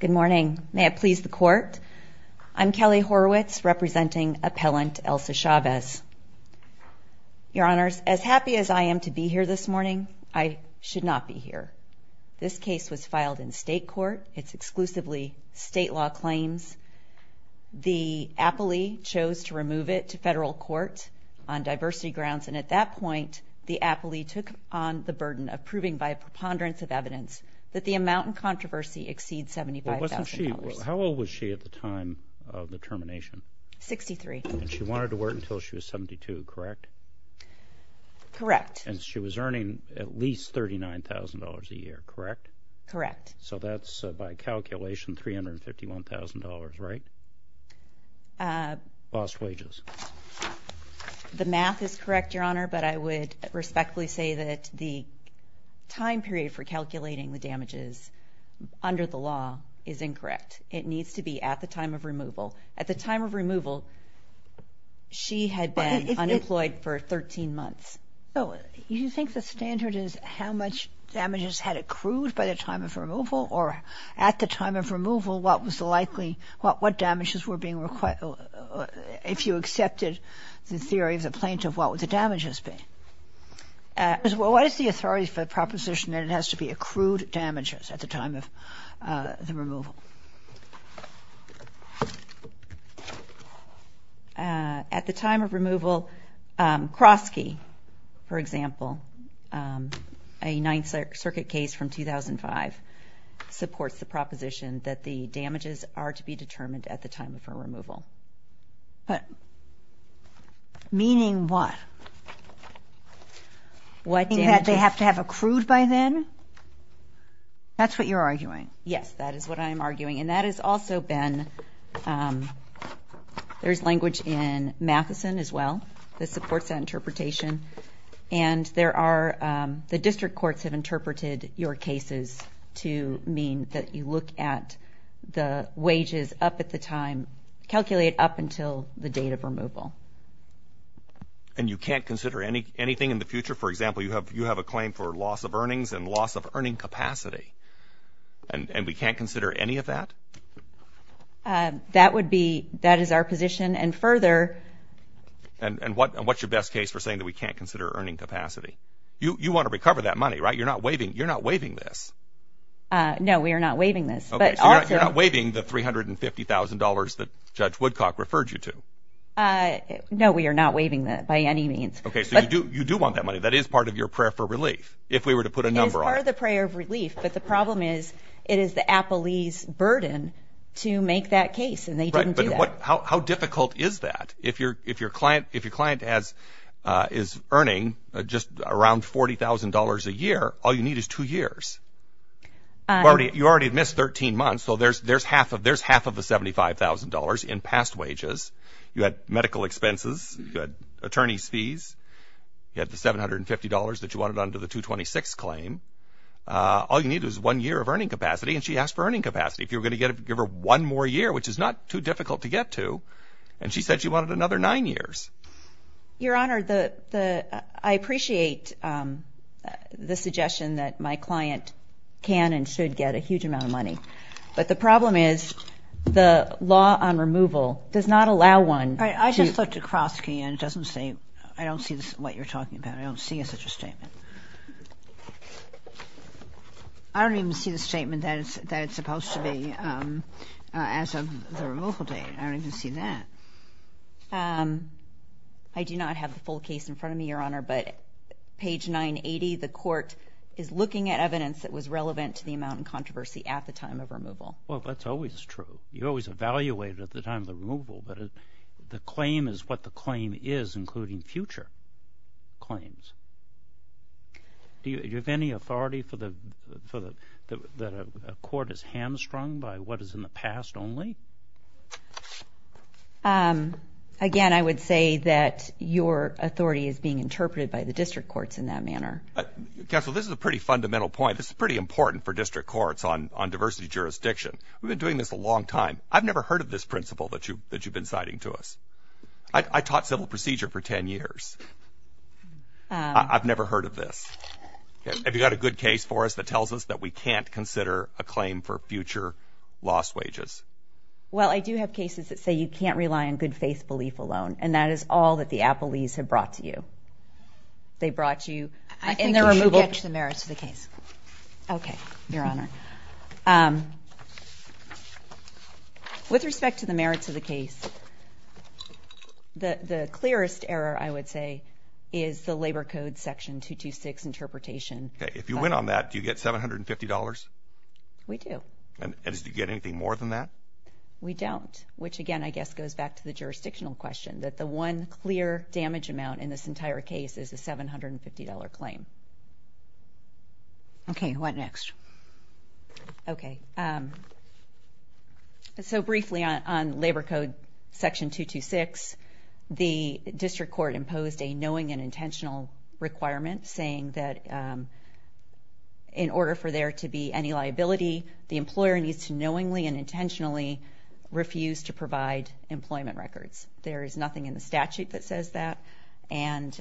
Good morning. May it please the court. I'm Kelly Horwitz representing appellant Elsa Chavez Your honors as happy as I am to be here this morning. I should not be here. This case was filed in state court It's exclusively state law claims the Appalee chose to remove it to federal court on Controversy exceeds $75,000. How old was she at the time of the termination? 63 and she wanted to work until she was 72, correct? Correct, and she was earning at least thirty nine thousand dollars a year, correct? Correct. So that's by calculation $351,000, right? Lost wages The math is correct your honor, but I would respectfully say that the time period for calculating the damages Under the law is incorrect. It needs to be at the time of removal at the time of removal She had been unemployed for 13 months So you think the standard is how much? Damages had accrued by the time of removal or at the time of removal. What was the likely what what damages were being required? If you accepted the theory of the plaintiff, what would the damages be? As well, what is the authority for the proposition that it has to be accrued damages at the time of the removal? At the time of removal Krosky, for example a 9th Circuit case from 2005 Supports the proposition that the damages are to be determined at the time of her removal but Meaning what? What they have to have accrued by then That's what you're arguing. Yes, that is what I am arguing and that has also been There's language in Matheson as well. This supports that interpretation and There are the district courts have interpreted your cases to mean that you look at The wages up at the time calculate up until the date of removal And you can't consider any anything in the future for example, you have you have a claim for loss of earnings and loss of earning capacity And we can't consider any of that That would be that is our position and further And and what and what's your best case for saying that we can't consider earning capacity you you want to recover that money, right? You're not waiving. You're not waiving this No, we are not waiving this but I'm not waiving the three hundred and fifty thousand dollars that judge Woodcock referred you to No, we are not waiving that by any means Okay, so you do you do want that money? That is part of your prayer for relief if we were to put a number on the prayer of relief But the problem is it is the Apple ease burden to make that case and they don't do that How difficult is that if you're if your client if your client has is earning just around forty thousand dollars a year All you need is two years Already you already missed 13 months. So there's there's half of there's half of the seventy five thousand dollars in past wages You had medical expenses good attorney's fees You had the seven hundred and fifty dollars that you wanted under the 226 claim All you need is one year of earning capacity and she asked for earning capacity if you were gonna get it give her one more Year, which is not too difficult to get to and she said she wanted another nine years Your honor the the I appreciate The suggestion that my client can and should get a huge amount of money But the problem is the law on removal does not allow one I just looked across key and it doesn't say I don't see this what you're talking about. I don't see a such a statement. I Don't even see the statement that it's that it's supposed to be as of the removal date. I don't even see that I Do not have the full case in front of me your honor Page 980 the court is looking at evidence that was relevant to the amount and controversy at the time of removal Well, that's always true. You always evaluate at the time of the removal, but the claim is what the claim is including future claims Do you have any authority for the for the that a court is hamstrung by what is in the past only Um Again, I would say that your authority is being interpreted by the district courts in that manner Counsel, this is a pretty fundamental point. This is pretty important for district courts on on diversity jurisdiction. We've been doing this a long time I've never heard of this principle that you that you've been citing to us. I Taught civil procedure for 10 years I've never heard of this Have you got a good case for us that tells us that we can't consider a claim for future lost wages Well, I do have cases that say you can't rely on good faith belief alone And that is all that the Apple ease have brought to you They brought you in the removal to the merits of the case Okay, your honor With respect to the merits of the case The the clearest error I would say is the labor code section two to six interpretation Okay, if you went on that do you get seven hundred and fifty dollars? We do and did you get anything more than that? We don't which again I guess goes back to the jurisdictional question that the one clear damage amount in this entire case is a seven hundred and fifty dollar claim Okay, what next Okay So briefly on labor code section two to six the district court imposed a knowing and intentional requirement saying that In order for there to be any liability the employer needs to knowingly and intentionally refuse to provide employment records, there is nothing in the statute that says that and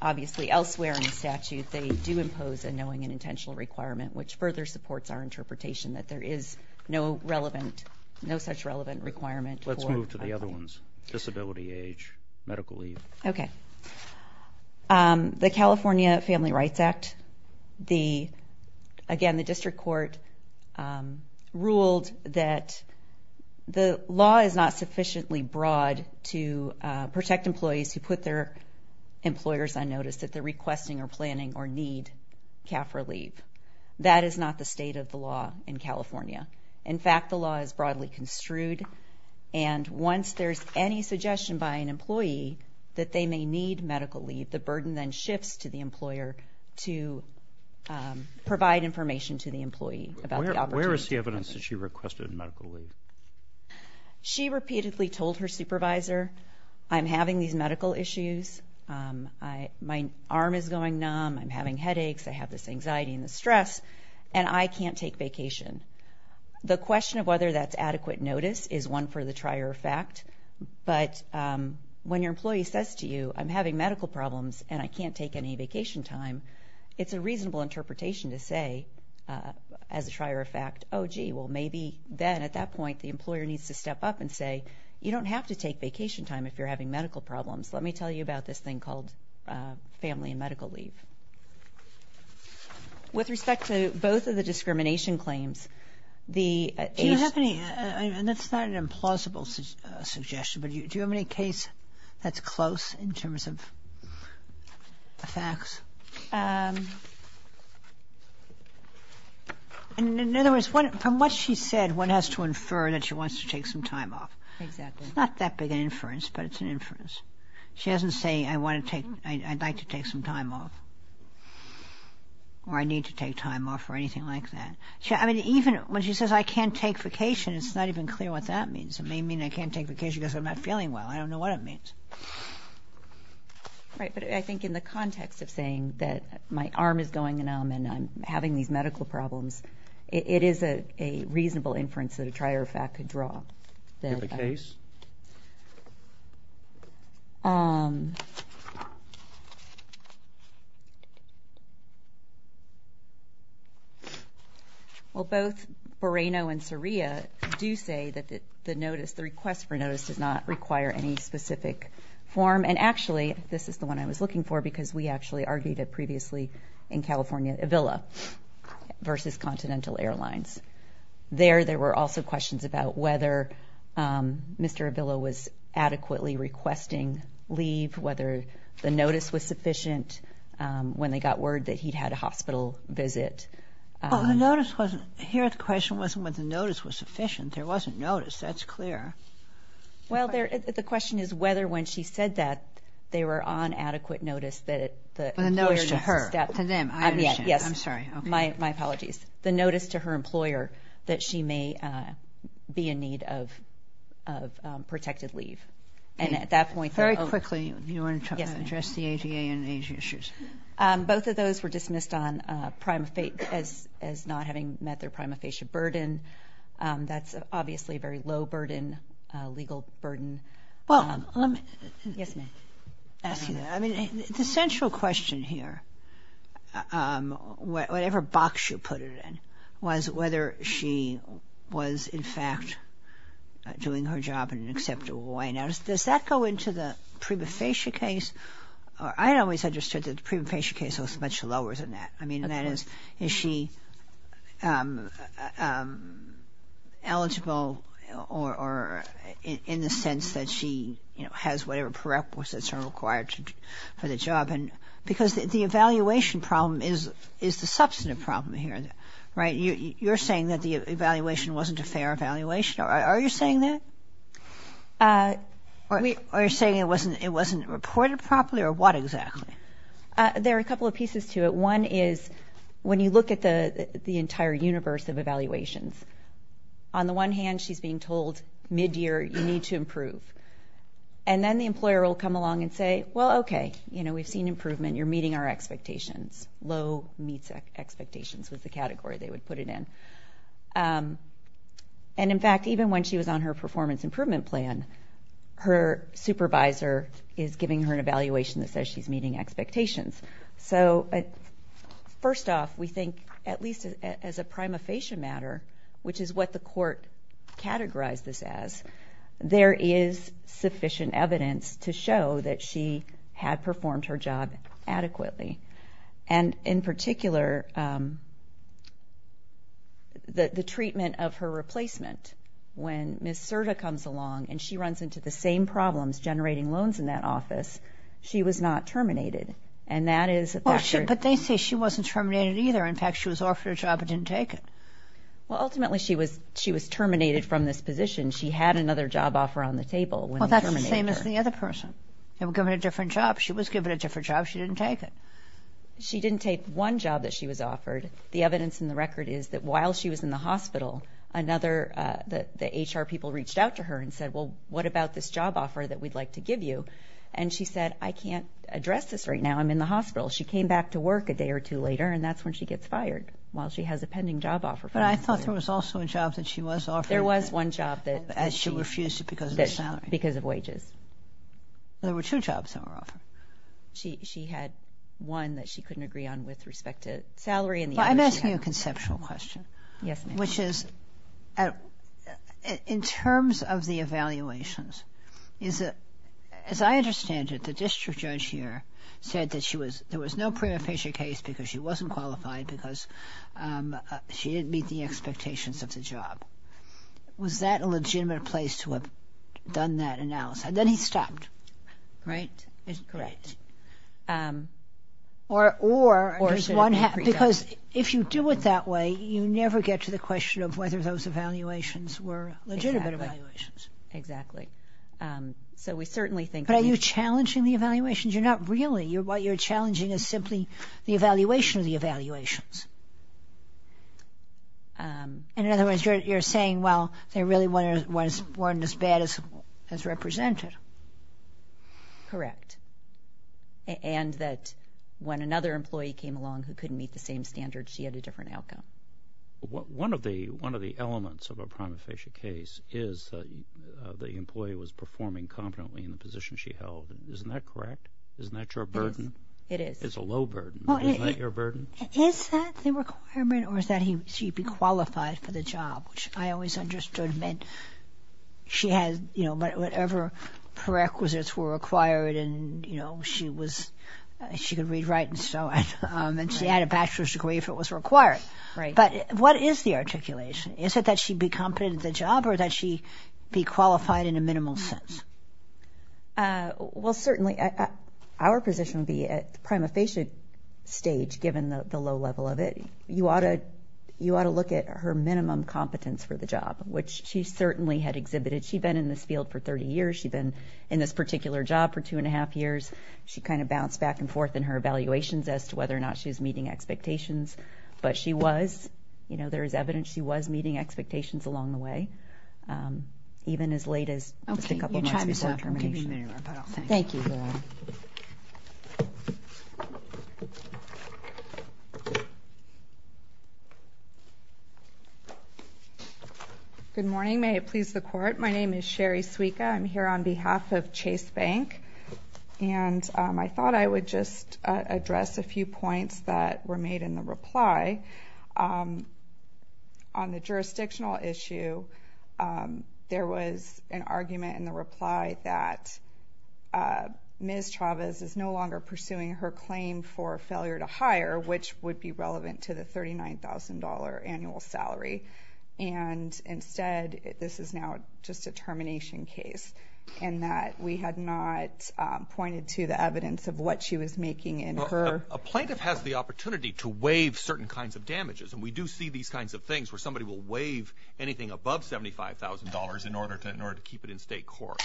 Obviously elsewhere in the statute they do impose a knowing and intentional requirement which further supports our interpretation that there is no relevant No such relevant requirement. Let's move to the other ones disability age Medically, okay The California Family Rights Act the again the district court ruled that the law is not sufficiently broad to protect employees who put their Employers on notice that they're requesting or planning or need Cal for leave that is not the state of the law in California. In fact, the law is broadly construed and Once there's any suggestion by an employee that they may need medical leave the burden then shifts to the employer to Provide information to the employee about where is the evidence that she requested medical leave? She repeatedly told her supervisor. I'm having these medical issues I my arm is going numb. I'm having headaches. I have this anxiety and the stress and I can't take vacation The question of whether that's adequate notice is one for the trier of fact, but When your employee says to you I'm having medical problems and I can't take any vacation time. It's a reasonable interpretation to say As a trier of fact, oh gee Well, maybe then at that point the employer needs to step up and say you don't have to take vacation time If you're having medical problems, let me tell you about this thing called family and medical leave With Respect to both of the discrimination claims the That's not an implausible suggestion, but you do have any case that's close in terms of facts And in other words what from what she said one has to infer that she wants to take some time off Not that big inference, but it's an inference. She hasn't saying I want to take I'd like to take some time off Or I need to take time off or anything like that. Yeah, I mean even when she says I can't take vacation It's not even clear what that means. It may mean I can't take vacation because I'm not feeling well. I don't know what it means Right, but I think in the context of saying that my arm is going numb and I'm having these medical problems It is a reasonable inference that a trier of fact could draw the case Well Both Boreno and Saria do say that the the notice the request for notice does not require any specific Form and actually this is the one I was looking for because we actually argued it previously in California Avila versus Continental Airlines There there were also questions about whether Mr. Avila was adequately requesting leave whether the notice was sufficient When they got word that he'd had a hospital visit The notice wasn't here. The question wasn't what the notice was sufficient. There wasn't notice. That's clear Well there the question is whether when she said that they were on adequate notice that it was a notice to her Yes, I'm sorry. My apologies the notice to her employer that she may be in need of of Both of those were dismissed on prima fate as as not having met their prima facie burden That's obviously a very low burden legal burden well Yes The central question here Whatever box you put it in was whether she was in fact Doing her job in an acceptable way now does that go into the prima facie case? I'd always understood that the prima facie case was much lower than that. I mean that is is she Eligible or In the sense that she you know has whatever prerequisites are required For the job and because the evaluation problem is is the substantive problem here Right you you're saying that the evaluation wasn't a fair evaluation. Are you saying that? Or we are saying it wasn't it wasn't reported properly or what exactly There are a couple of pieces to it one is when you look at the the entire universe of evaluations on The one hand she's being told mid-year you need to improve and then the employer will come along and say well, okay You know we've seen improvement. You're meeting our expectations low meets expectations was the category they would put it in and In fact even when she was on her performance improvement plan her supervisor is giving her an evaluation that says she's meeting expectations, so First off we think at least as a prima facie matter, which is what the court categorized this as there is sufficient evidence to show that she had performed her job adequately and in particular The Treatment of her replacement When miss Serta comes along and she runs into the same problems generating loans in that office She was not terminated, and that is a question, but they say she wasn't terminated either in fact. She was offered a job I didn't take it Well ultimately she was she was terminated from this position. She had another job offer on the table Well, that's the same as the other person. They were given a different job. She was given a different job. She didn't take it She didn't take one job that she was offered the evidence in the record is that while she was in the hospital Another that the HR people reached out to her and said well What about this job offer that we'd like to give you and she said I can't address this right now I'm in the hospital she came back to work a day or two later And that's when she gets fired while she has a pending job offer But I thought there was also a job that she was off there was one job that as she refused it because that's because of wages There were two jobs that were offered She had one that she couldn't agree on with respect to salary and the other I'm asking you a conceptual question. Yes, which is In terms of the evaluations is that as I understand it the district judge here said that she was there was no pre-official case because she wasn't qualified because She didn't meet the expectations of the job Was that a legitimate place to have done that analysis, and then he stopped Right Or or or is one happy because if you do it that way you never get to the question of whether those evaluations were legitimate evaluations exactly So we certainly think are you challenging the evaluations? You're not really you're what you're challenging is simply the evaluation of the evaluations And in other words you're saying well, they really wanted was born as bad as as represented correct And that when another employee came along who couldn't meet the same standards. She had a different outcome What one of the one of the elements of a prima facie case is? The employee was performing competently in the position. She held isn't that correct isn't that your burden it is it's a low burden Why is that your burden is that the requirement or is that he should be qualified for the job, which I always understood meant She has you know, but whatever Prerequisites were acquired, and you know she was She could read write and so on and she had a bachelor's degree if it was required right But what is the articulation is it that she'd be competent at the job or that she be qualified in a minimal sense? Well certainly Our position would be at the prima facie Stage given the low level of it you ought to you ought to look at her minimum competence for the job Which she certainly had exhibited she'd been in this field for 30 years She'd been in this particular job for two and a half years She kind of bounced back and forth in her evaluations as to whether or not she was meeting expectations But she was you know there is evidence. She was meeting expectations along the way Even as late as a couple Thank you Good morning, may it please the court. My name is Sherry Suica. I'm here on behalf of Chase Bank and I thought I would just address a few points that were made in the reply on the jurisdictional issue there was an argument in the reply that Miss Chavez is no longer pursuing her claim for failure to hire which would be relevant to the $39,000 annual salary and Instead this is now just a termination case and that we had not pointed to the evidence of what she was making in her a plaintiff has the Opportunity to waive certain kinds of damages, and we do see these kinds of things where somebody will waive anything above $75,000 in order to in order to keep it in state court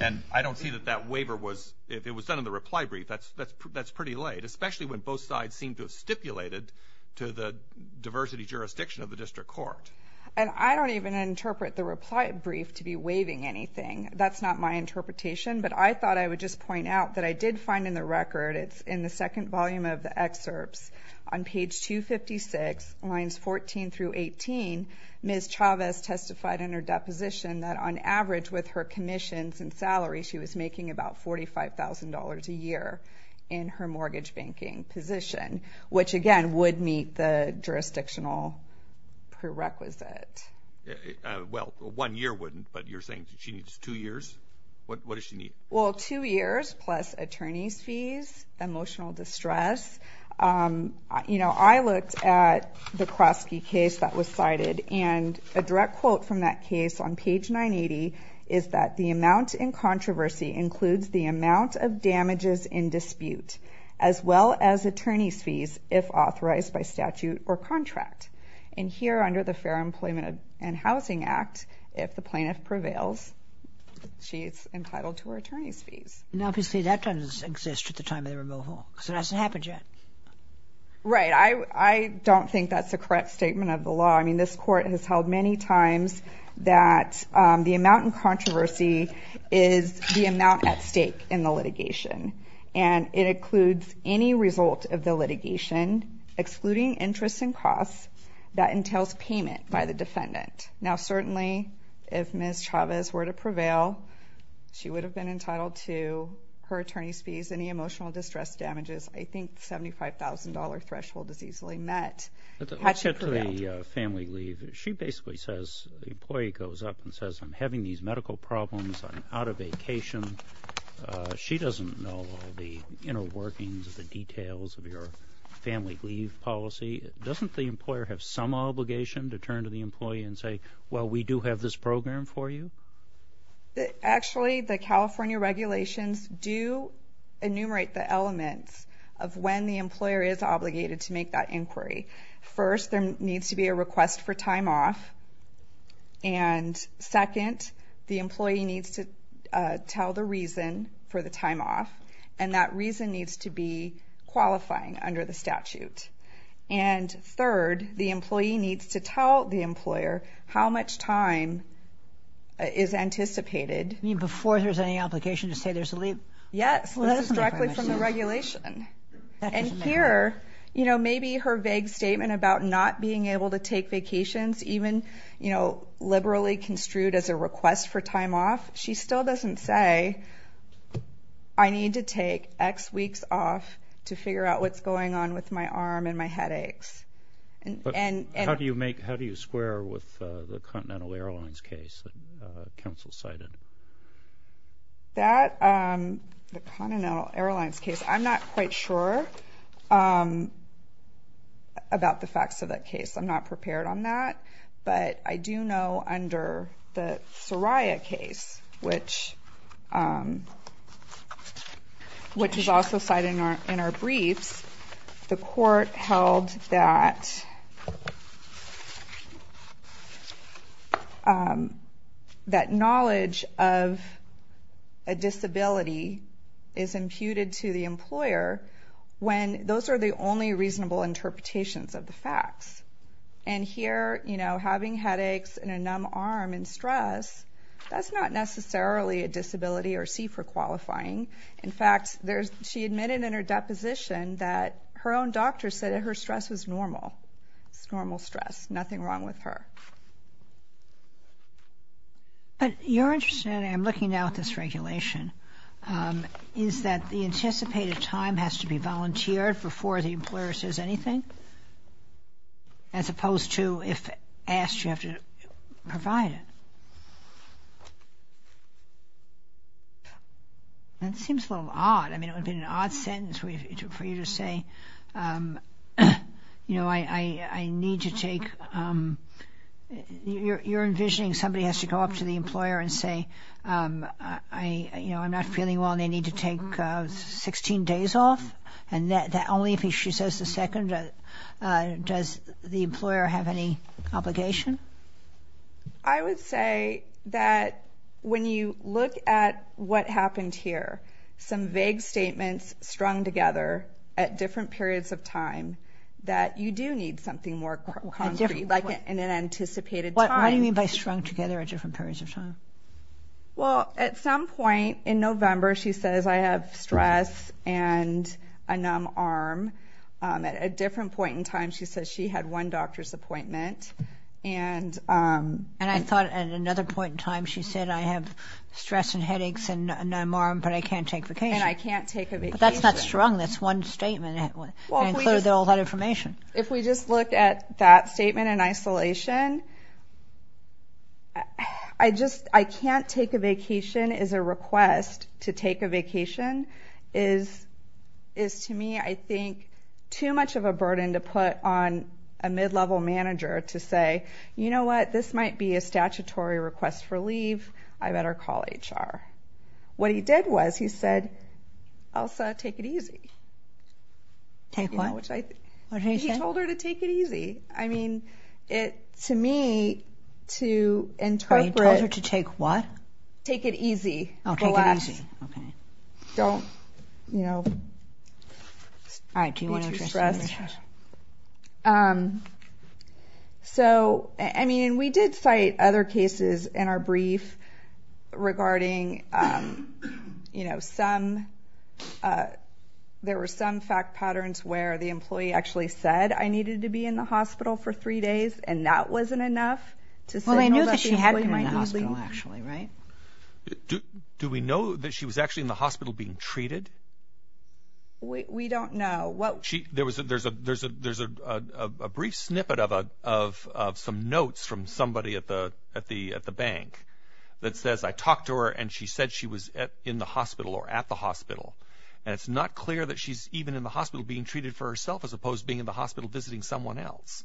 And I don't see that that waiver was if it was done in the reply brief That's that's that's pretty late especially when both sides seem to have stipulated to the diversity jurisdiction of the district court And I don't even interpret the reply brief to be waiving anything That's not my interpretation, but I thought I would just point out that I did find in the record It's in the second volume of the excerpts on page 256 lines 14 through 18 Miss Chavez testified in her deposition that on average with her commissions and salary She was making about forty five thousand dollars a year in her mortgage banking position, which again would meet the jurisdictional prerequisite Well one year wouldn't but you're saying she needs two years. What does she need well two years plus attorneys fees? emotional distress You know I looked at the Krasky case that was cited and a direct quote from that case on page 980 is that the amount in controversy includes the amount of damages in dispute as Well-as attorneys fees if authorized by statute or contract and here under the Fair Employment and Housing Act if the plaintiff prevails She's entitled to her attorney's fees now if you see that doesn't exist at the time of the removal so that's happened yet Right I I don't think that's the correct statement of the law. I mean this court has held many times that the amount in controversy is The amount at stake in the litigation and it includes any result of the litigation Excluding interest and costs that entails payment by the defendant now certainly if miss Chavez were to prevail She would have been entitled to her attorney's fees any emotional distress damages. I think $75,000 threshold is easily met Family leave she basically says the employee goes up and says I'm having these medical problems. I'm out of vacation She doesn't know the inner workings of the details of your family leave policy Doesn't the employer have some obligation to turn to the employee and say well, we do have this program for you actually the California regulations do Enumerate the elements of when the employer is obligated to make that inquiry first there needs to be a request for time off and Second the employee needs to tell the reason for the time off and that reason needs to be qualifying under the statute and Third the employee needs to tell the employer how much time Is anticipated I mean before there's any application to say there's a leap. Yes, this is directly from the regulation And here, you know, maybe her vague statement about not being able to take vacations even you know Liberally construed as a request for time off. She still doesn't say I Need to take X weeks off to figure out what's going on with my arm and my headaches And how do you make how do you square with the Continental Airlines case? counsel cited That the Continental Airlines case, I'm not quite sure About the facts of that case, I'm not prepared on that, but I do know under the Soraya case which Which is also cited in our briefs the court held that That Knowledge of a Disability is imputed to the employer when those are the only reasonable interpretations of the facts and Here, you know having headaches and a numb arm and stress That's not necessarily a disability or C for qualifying In fact, there's she admitted in her deposition that her own doctor said her stress was normal It's normal stress nothing wrong with her But you're interested in I'm looking now at this regulation Is that the anticipated time has to be volunteered before the employer says anything? As opposed to if asked you have to provide it That seems a little odd, I mean it would be an odd sentence for you to say You know, I I need to take You're envisioning somebody has to go up to the employer and say I You know, I'm not feeling well. They need to take 16 days off and that only if he she says the second Does the employer have any obligation? I Would say that When you look at what happened here some vague statements strung together at different periods of time That you do need something more concrete like in an anticipated time. Why do you mean by strung together at different periods of time? Well at some point in November, she says I have stress and a numb arm at a different point in time, she says she had one doctor's appointment and And I thought at another point in time she said I have stress and headaches and numb arm But I can't take the case. I can't take a bit. That's not strong. That's one statement It was all that information if we just look at that statement in isolation. I Just I can't take a vacation is a request to take a vacation is Is to me I think too much of a burden to put on a mid-level manager to say, you know What this might be a statutory request for leave. I better call HR What he did was he said I'll say take it easy Take what I told her to take it easy. I mean it to me To interpret her to take what take it easy. Okay last Don't you know? All right So I mean we did cite other cases in our brief regarding you know some There were some fact patterns where the employee actually said I needed to be in the hospital for three days and that wasn't enough To say I know that she had my husband actually, right? Do we know that she was actually in the hospital being treated? We don't know what she there was a there's a there's a there's a brief snippet of a of Some notes from somebody at the at the at the bank That says I talked to her and she said she was at in the hospital or at the hospital And it's not clear that she's even in the hospital being treated for herself as opposed being in the hospital visiting someone else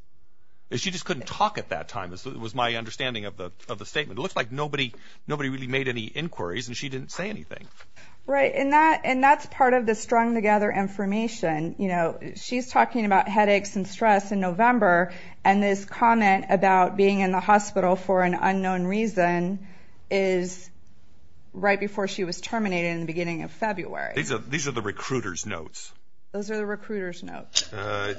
She just couldn't talk at that time. This was my understanding of the of the statement It looks like nobody nobody really made any inquiries and she didn't say anything Right in that and that's part of the strung-together information, you know, she's talking about headaches and stress in November and this comment about being in the hospital for an unknown reason is Right before she was terminated in the beginning of February. These are these are the recruiters notes. Those are the recruiters notes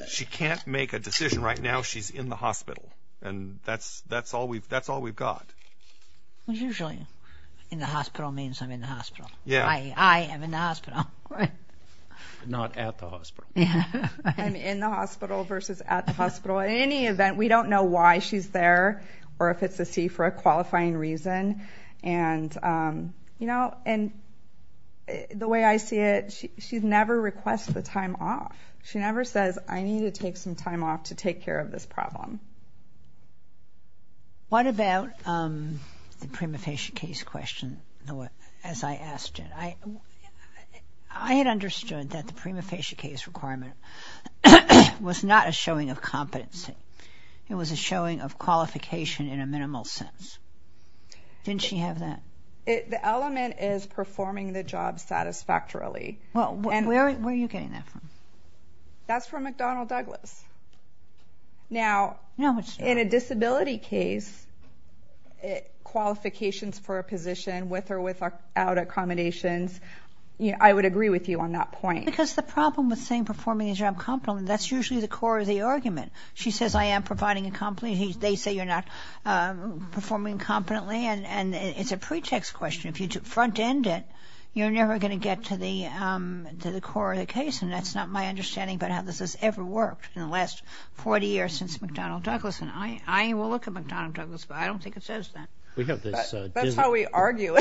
She can't make a decision right now. She's in the hospital and that's that's all we've that's all we've got Was usually in the hospital means I'm in the hospital. Yeah, I am in the hospital Not at the hospital. Yeah, I'm in the hospital versus at the hospital at any event we don't know why she's there or if it's a C for a qualifying reason and you know and The way I see it. She's never requests the time off. She never says I need to take some time off to take care of this problem What about The prima facie case question the way as I asked it I I had understood that the prima facie case requirement Was not a showing of competency. It was a showing of qualification in a minimal sense Didn't she have that it the element is performing the job satisfactorily. Well, where are you getting that from? That's from McDonnell Douglas Now no, it's in a disability case Qualifications for a position with or without Accommodations, you know, I would agree with you on that point because the problem with saying performing a job compliment That's usually the core of the argument. She says I am providing a company. They say you're not Performing competently and and it's a pretext question if you took front-end it you're never going to get to the To the core of the case and that's not my understanding But how this has ever worked in the last 40 years since McDonnell Douglas and I I will look at McDonnell Douglas But I don't think it says that we have this. That's how we argue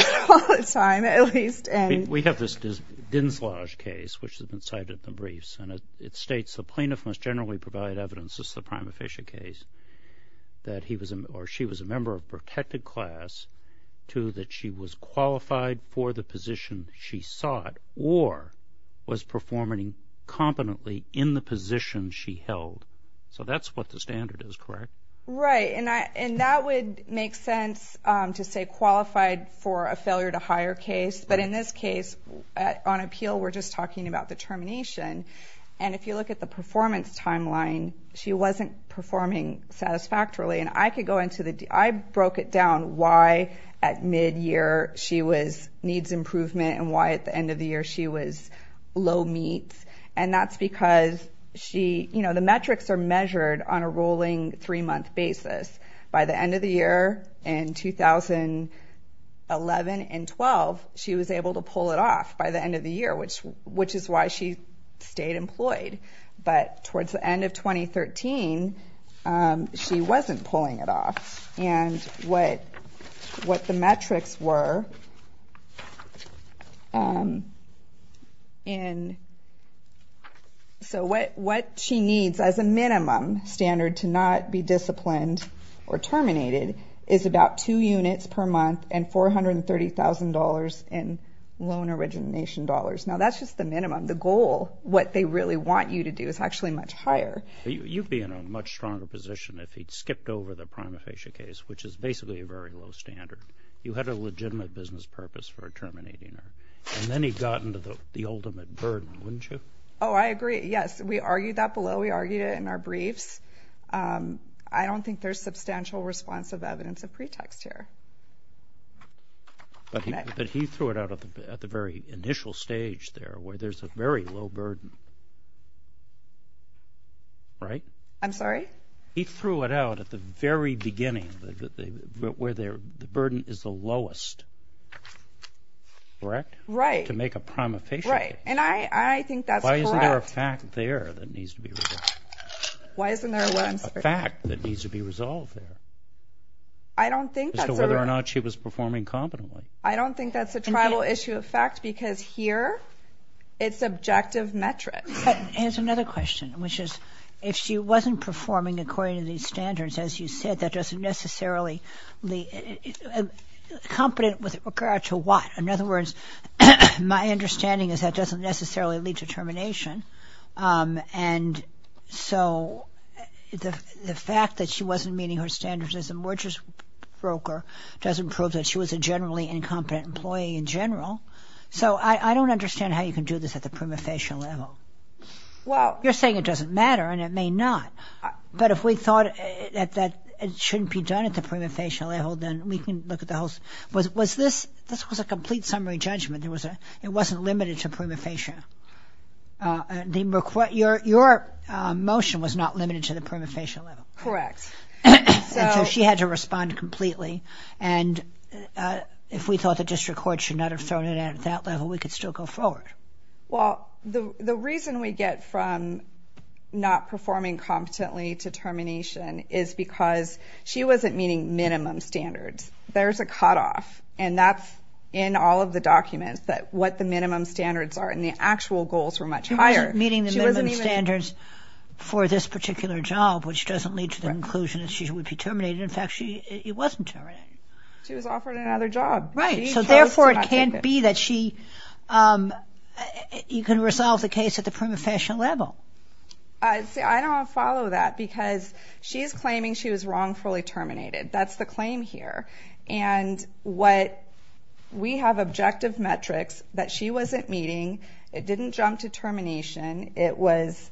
Time at least and we have this Dinslage case which has been cited at the briefs and it states the plaintiff must generally provide evidence. This is the prima facie case That he was or she was a member of protected class To that she was qualified for the position she sought or was performing Competently in the position she held so that's what the standard is, correct, right? And I and that would make sense to say qualified for a failure to hire case But in this case on appeal, we're just talking about the termination and if you look at the performance timeline She wasn't performing Satisfactorily and I could go into the I broke it down why at mid-year She was needs improvement and why at the end of the year she was low meets and that's because She you know, the metrics are measured on a rolling three-month basis by the end of the year in 2011 and 12 she was able to pull it off by the end of the year, which which is why she stayed employed But towards the end of 2013 She wasn't pulling it off and what what the metrics were In So what what she needs as a minimum standard to not be disciplined or terminated is about two units per month and $430,000 in loan origination dollars. Now, that's just the minimum the goal what they really want you to do is actually much higher You'd be in a much stronger position if he'd skipped over the prima facie case, which is basically a very low standard You had a legitimate business purpose for a terminating her and then he got into the the ultimate burden wouldn't you? Oh, I agree Yes, we argued that below we argued it in our briefs I don't think there's substantial responsive evidence of pretext here But he threw it out of the very initial stage there where there's a very low burden Right, I'm sorry. He threw it out at the very beginning that they were there the burden is the lowest Correct right to make a prima facie right and I I think that's why isn't there a fact there that needs to be Why isn't there one fact that needs to be resolved there? I Don't think so whether or not she was performing competently. I don't think that's a tribal issue of fact because here it's Subjective metric and it's another question, which is if she wasn't performing according to these standards as you said that doesn't necessarily the Competent with regard to what in other words my understanding is that doesn't necessarily lead to termination and so The the fact that she wasn't meeting her standards as a mergers Broker doesn't prove that she was a generally incompetent employee in general So, I I don't understand how you can do this at the prima facie level Well, you're saying it doesn't matter and it may not But if we thought that that it shouldn't be done at the prima facie level Then we can look at the host was was this this was a complete summary judgment. There was a it wasn't limited to prima facie The look what your your motion was not limited to the prima facie level, correct? she had to respond completely and If we thought the district court should not have thrown it at that level we could still go forward well the the reason we get from Not performing competently to termination is because she wasn't meeting minimum standards There's a cutoff and that's in all of the documents that what the minimum standards are and the actual goals were much higher She wasn't meeting the minimum standards For this particular job, which doesn't lead to the conclusion that she would be terminated. In fact, she it wasn't She was offered another job right so therefore it can't be that she You can resolve the case at the prima facie level I'd say I don't follow that because she's claiming she was wrongfully terminated. That's the claim here and what We have objective metrics that she wasn't meeting. It didn't jump to termination. It was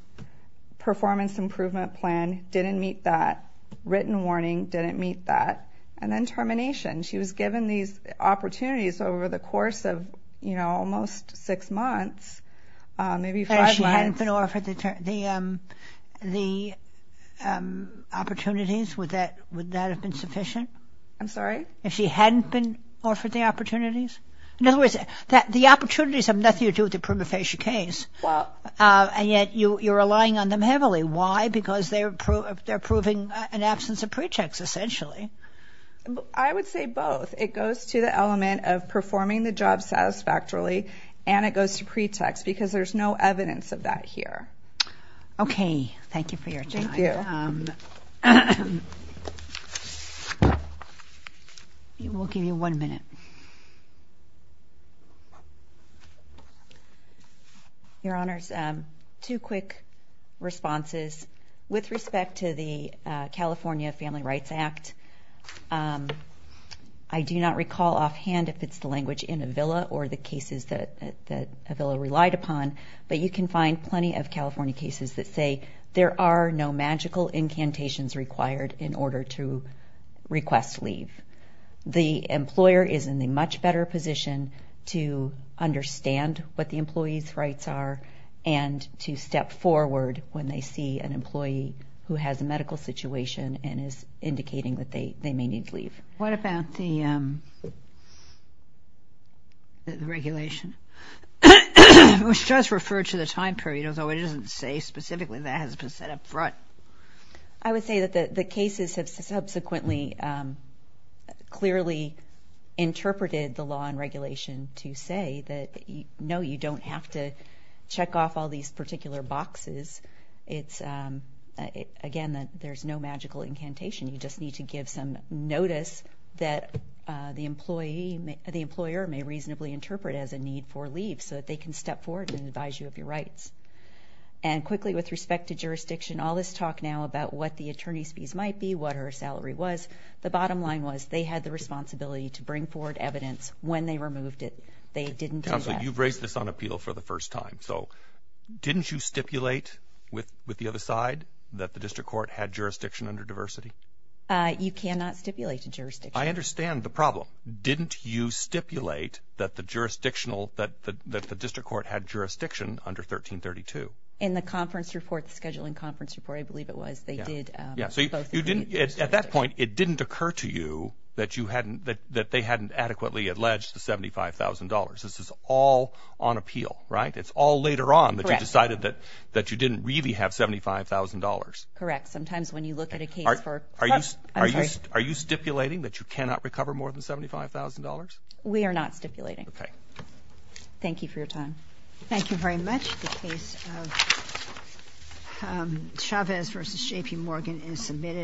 Performance improvement plan didn't meet that written warning didn't meet that and then termination. She was given these Opportunities over the course of you know, almost six months maybe five months. If she hadn't been offered the the Opportunities would that would that have been sufficient? I'm sorry if she hadn't been offered the opportunities In other words that the opportunities have nothing to do with the prima facie case And yet you you're relying on them heavily why because they're proof they're proving an absence of pretext essentially I Would say both it goes to the element of performing the job Satisfactorily and it goes to pretext because there's no evidence of that here Okay. Thank you for your time You will give you one minute Two quick responses with respect to the California Family Rights Act I Do not recall offhand if it's the language in a villa or the cases that that a villa relied upon but you can find plenty of California cases that say there are no magical incantations required in order to request leave the employer is in a much better position to Understand what the employees rights are and to step forward when they see an employee who has a medical situation And is indicating that they they may need to leave. What about the Regulation Which does refer to the time period although it doesn't say specifically that has been set up front. I Would say that the the cases have subsequently Clearly Interpreted the law and regulation to say that you know, you don't have to check off all these particular boxes. It's Again that there's no magical incantation. You just need to give some notice that the employee the employer may reasonably interpret as a need for leave so that they can step forward and advise you of your rights and Quickly with respect to jurisdiction all this talk now about what the attorney's fees might be what her salary was The bottom line was they had the responsibility to bring forward evidence when they removed it They didn't tell you you've raised this on appeal for the first time. So Didn't you stipulate with with the other side that the district court had jurisdiction under diversity? You cannot stipulate a jurisdiction. I understand the problem Didn't you stipulate that the jurisdictional that the district court had jurisdiction under 1332 in the conference report? The scheduling conference report I believe it was they did At that point it didn't occur to you that you hadn't that that they hadn't adequately alleged to $75,000. This is all on appeal, right? It's all later on that. I decided that that you didn't really have $75,000 correct. Sometimes when you look at a case, are you are you are you stipulating that you cannot recover more than $75,000 we are not stipulating. Okay Thank you for your time. Thank you very much The case of Chavez versus JP Morgan is submitted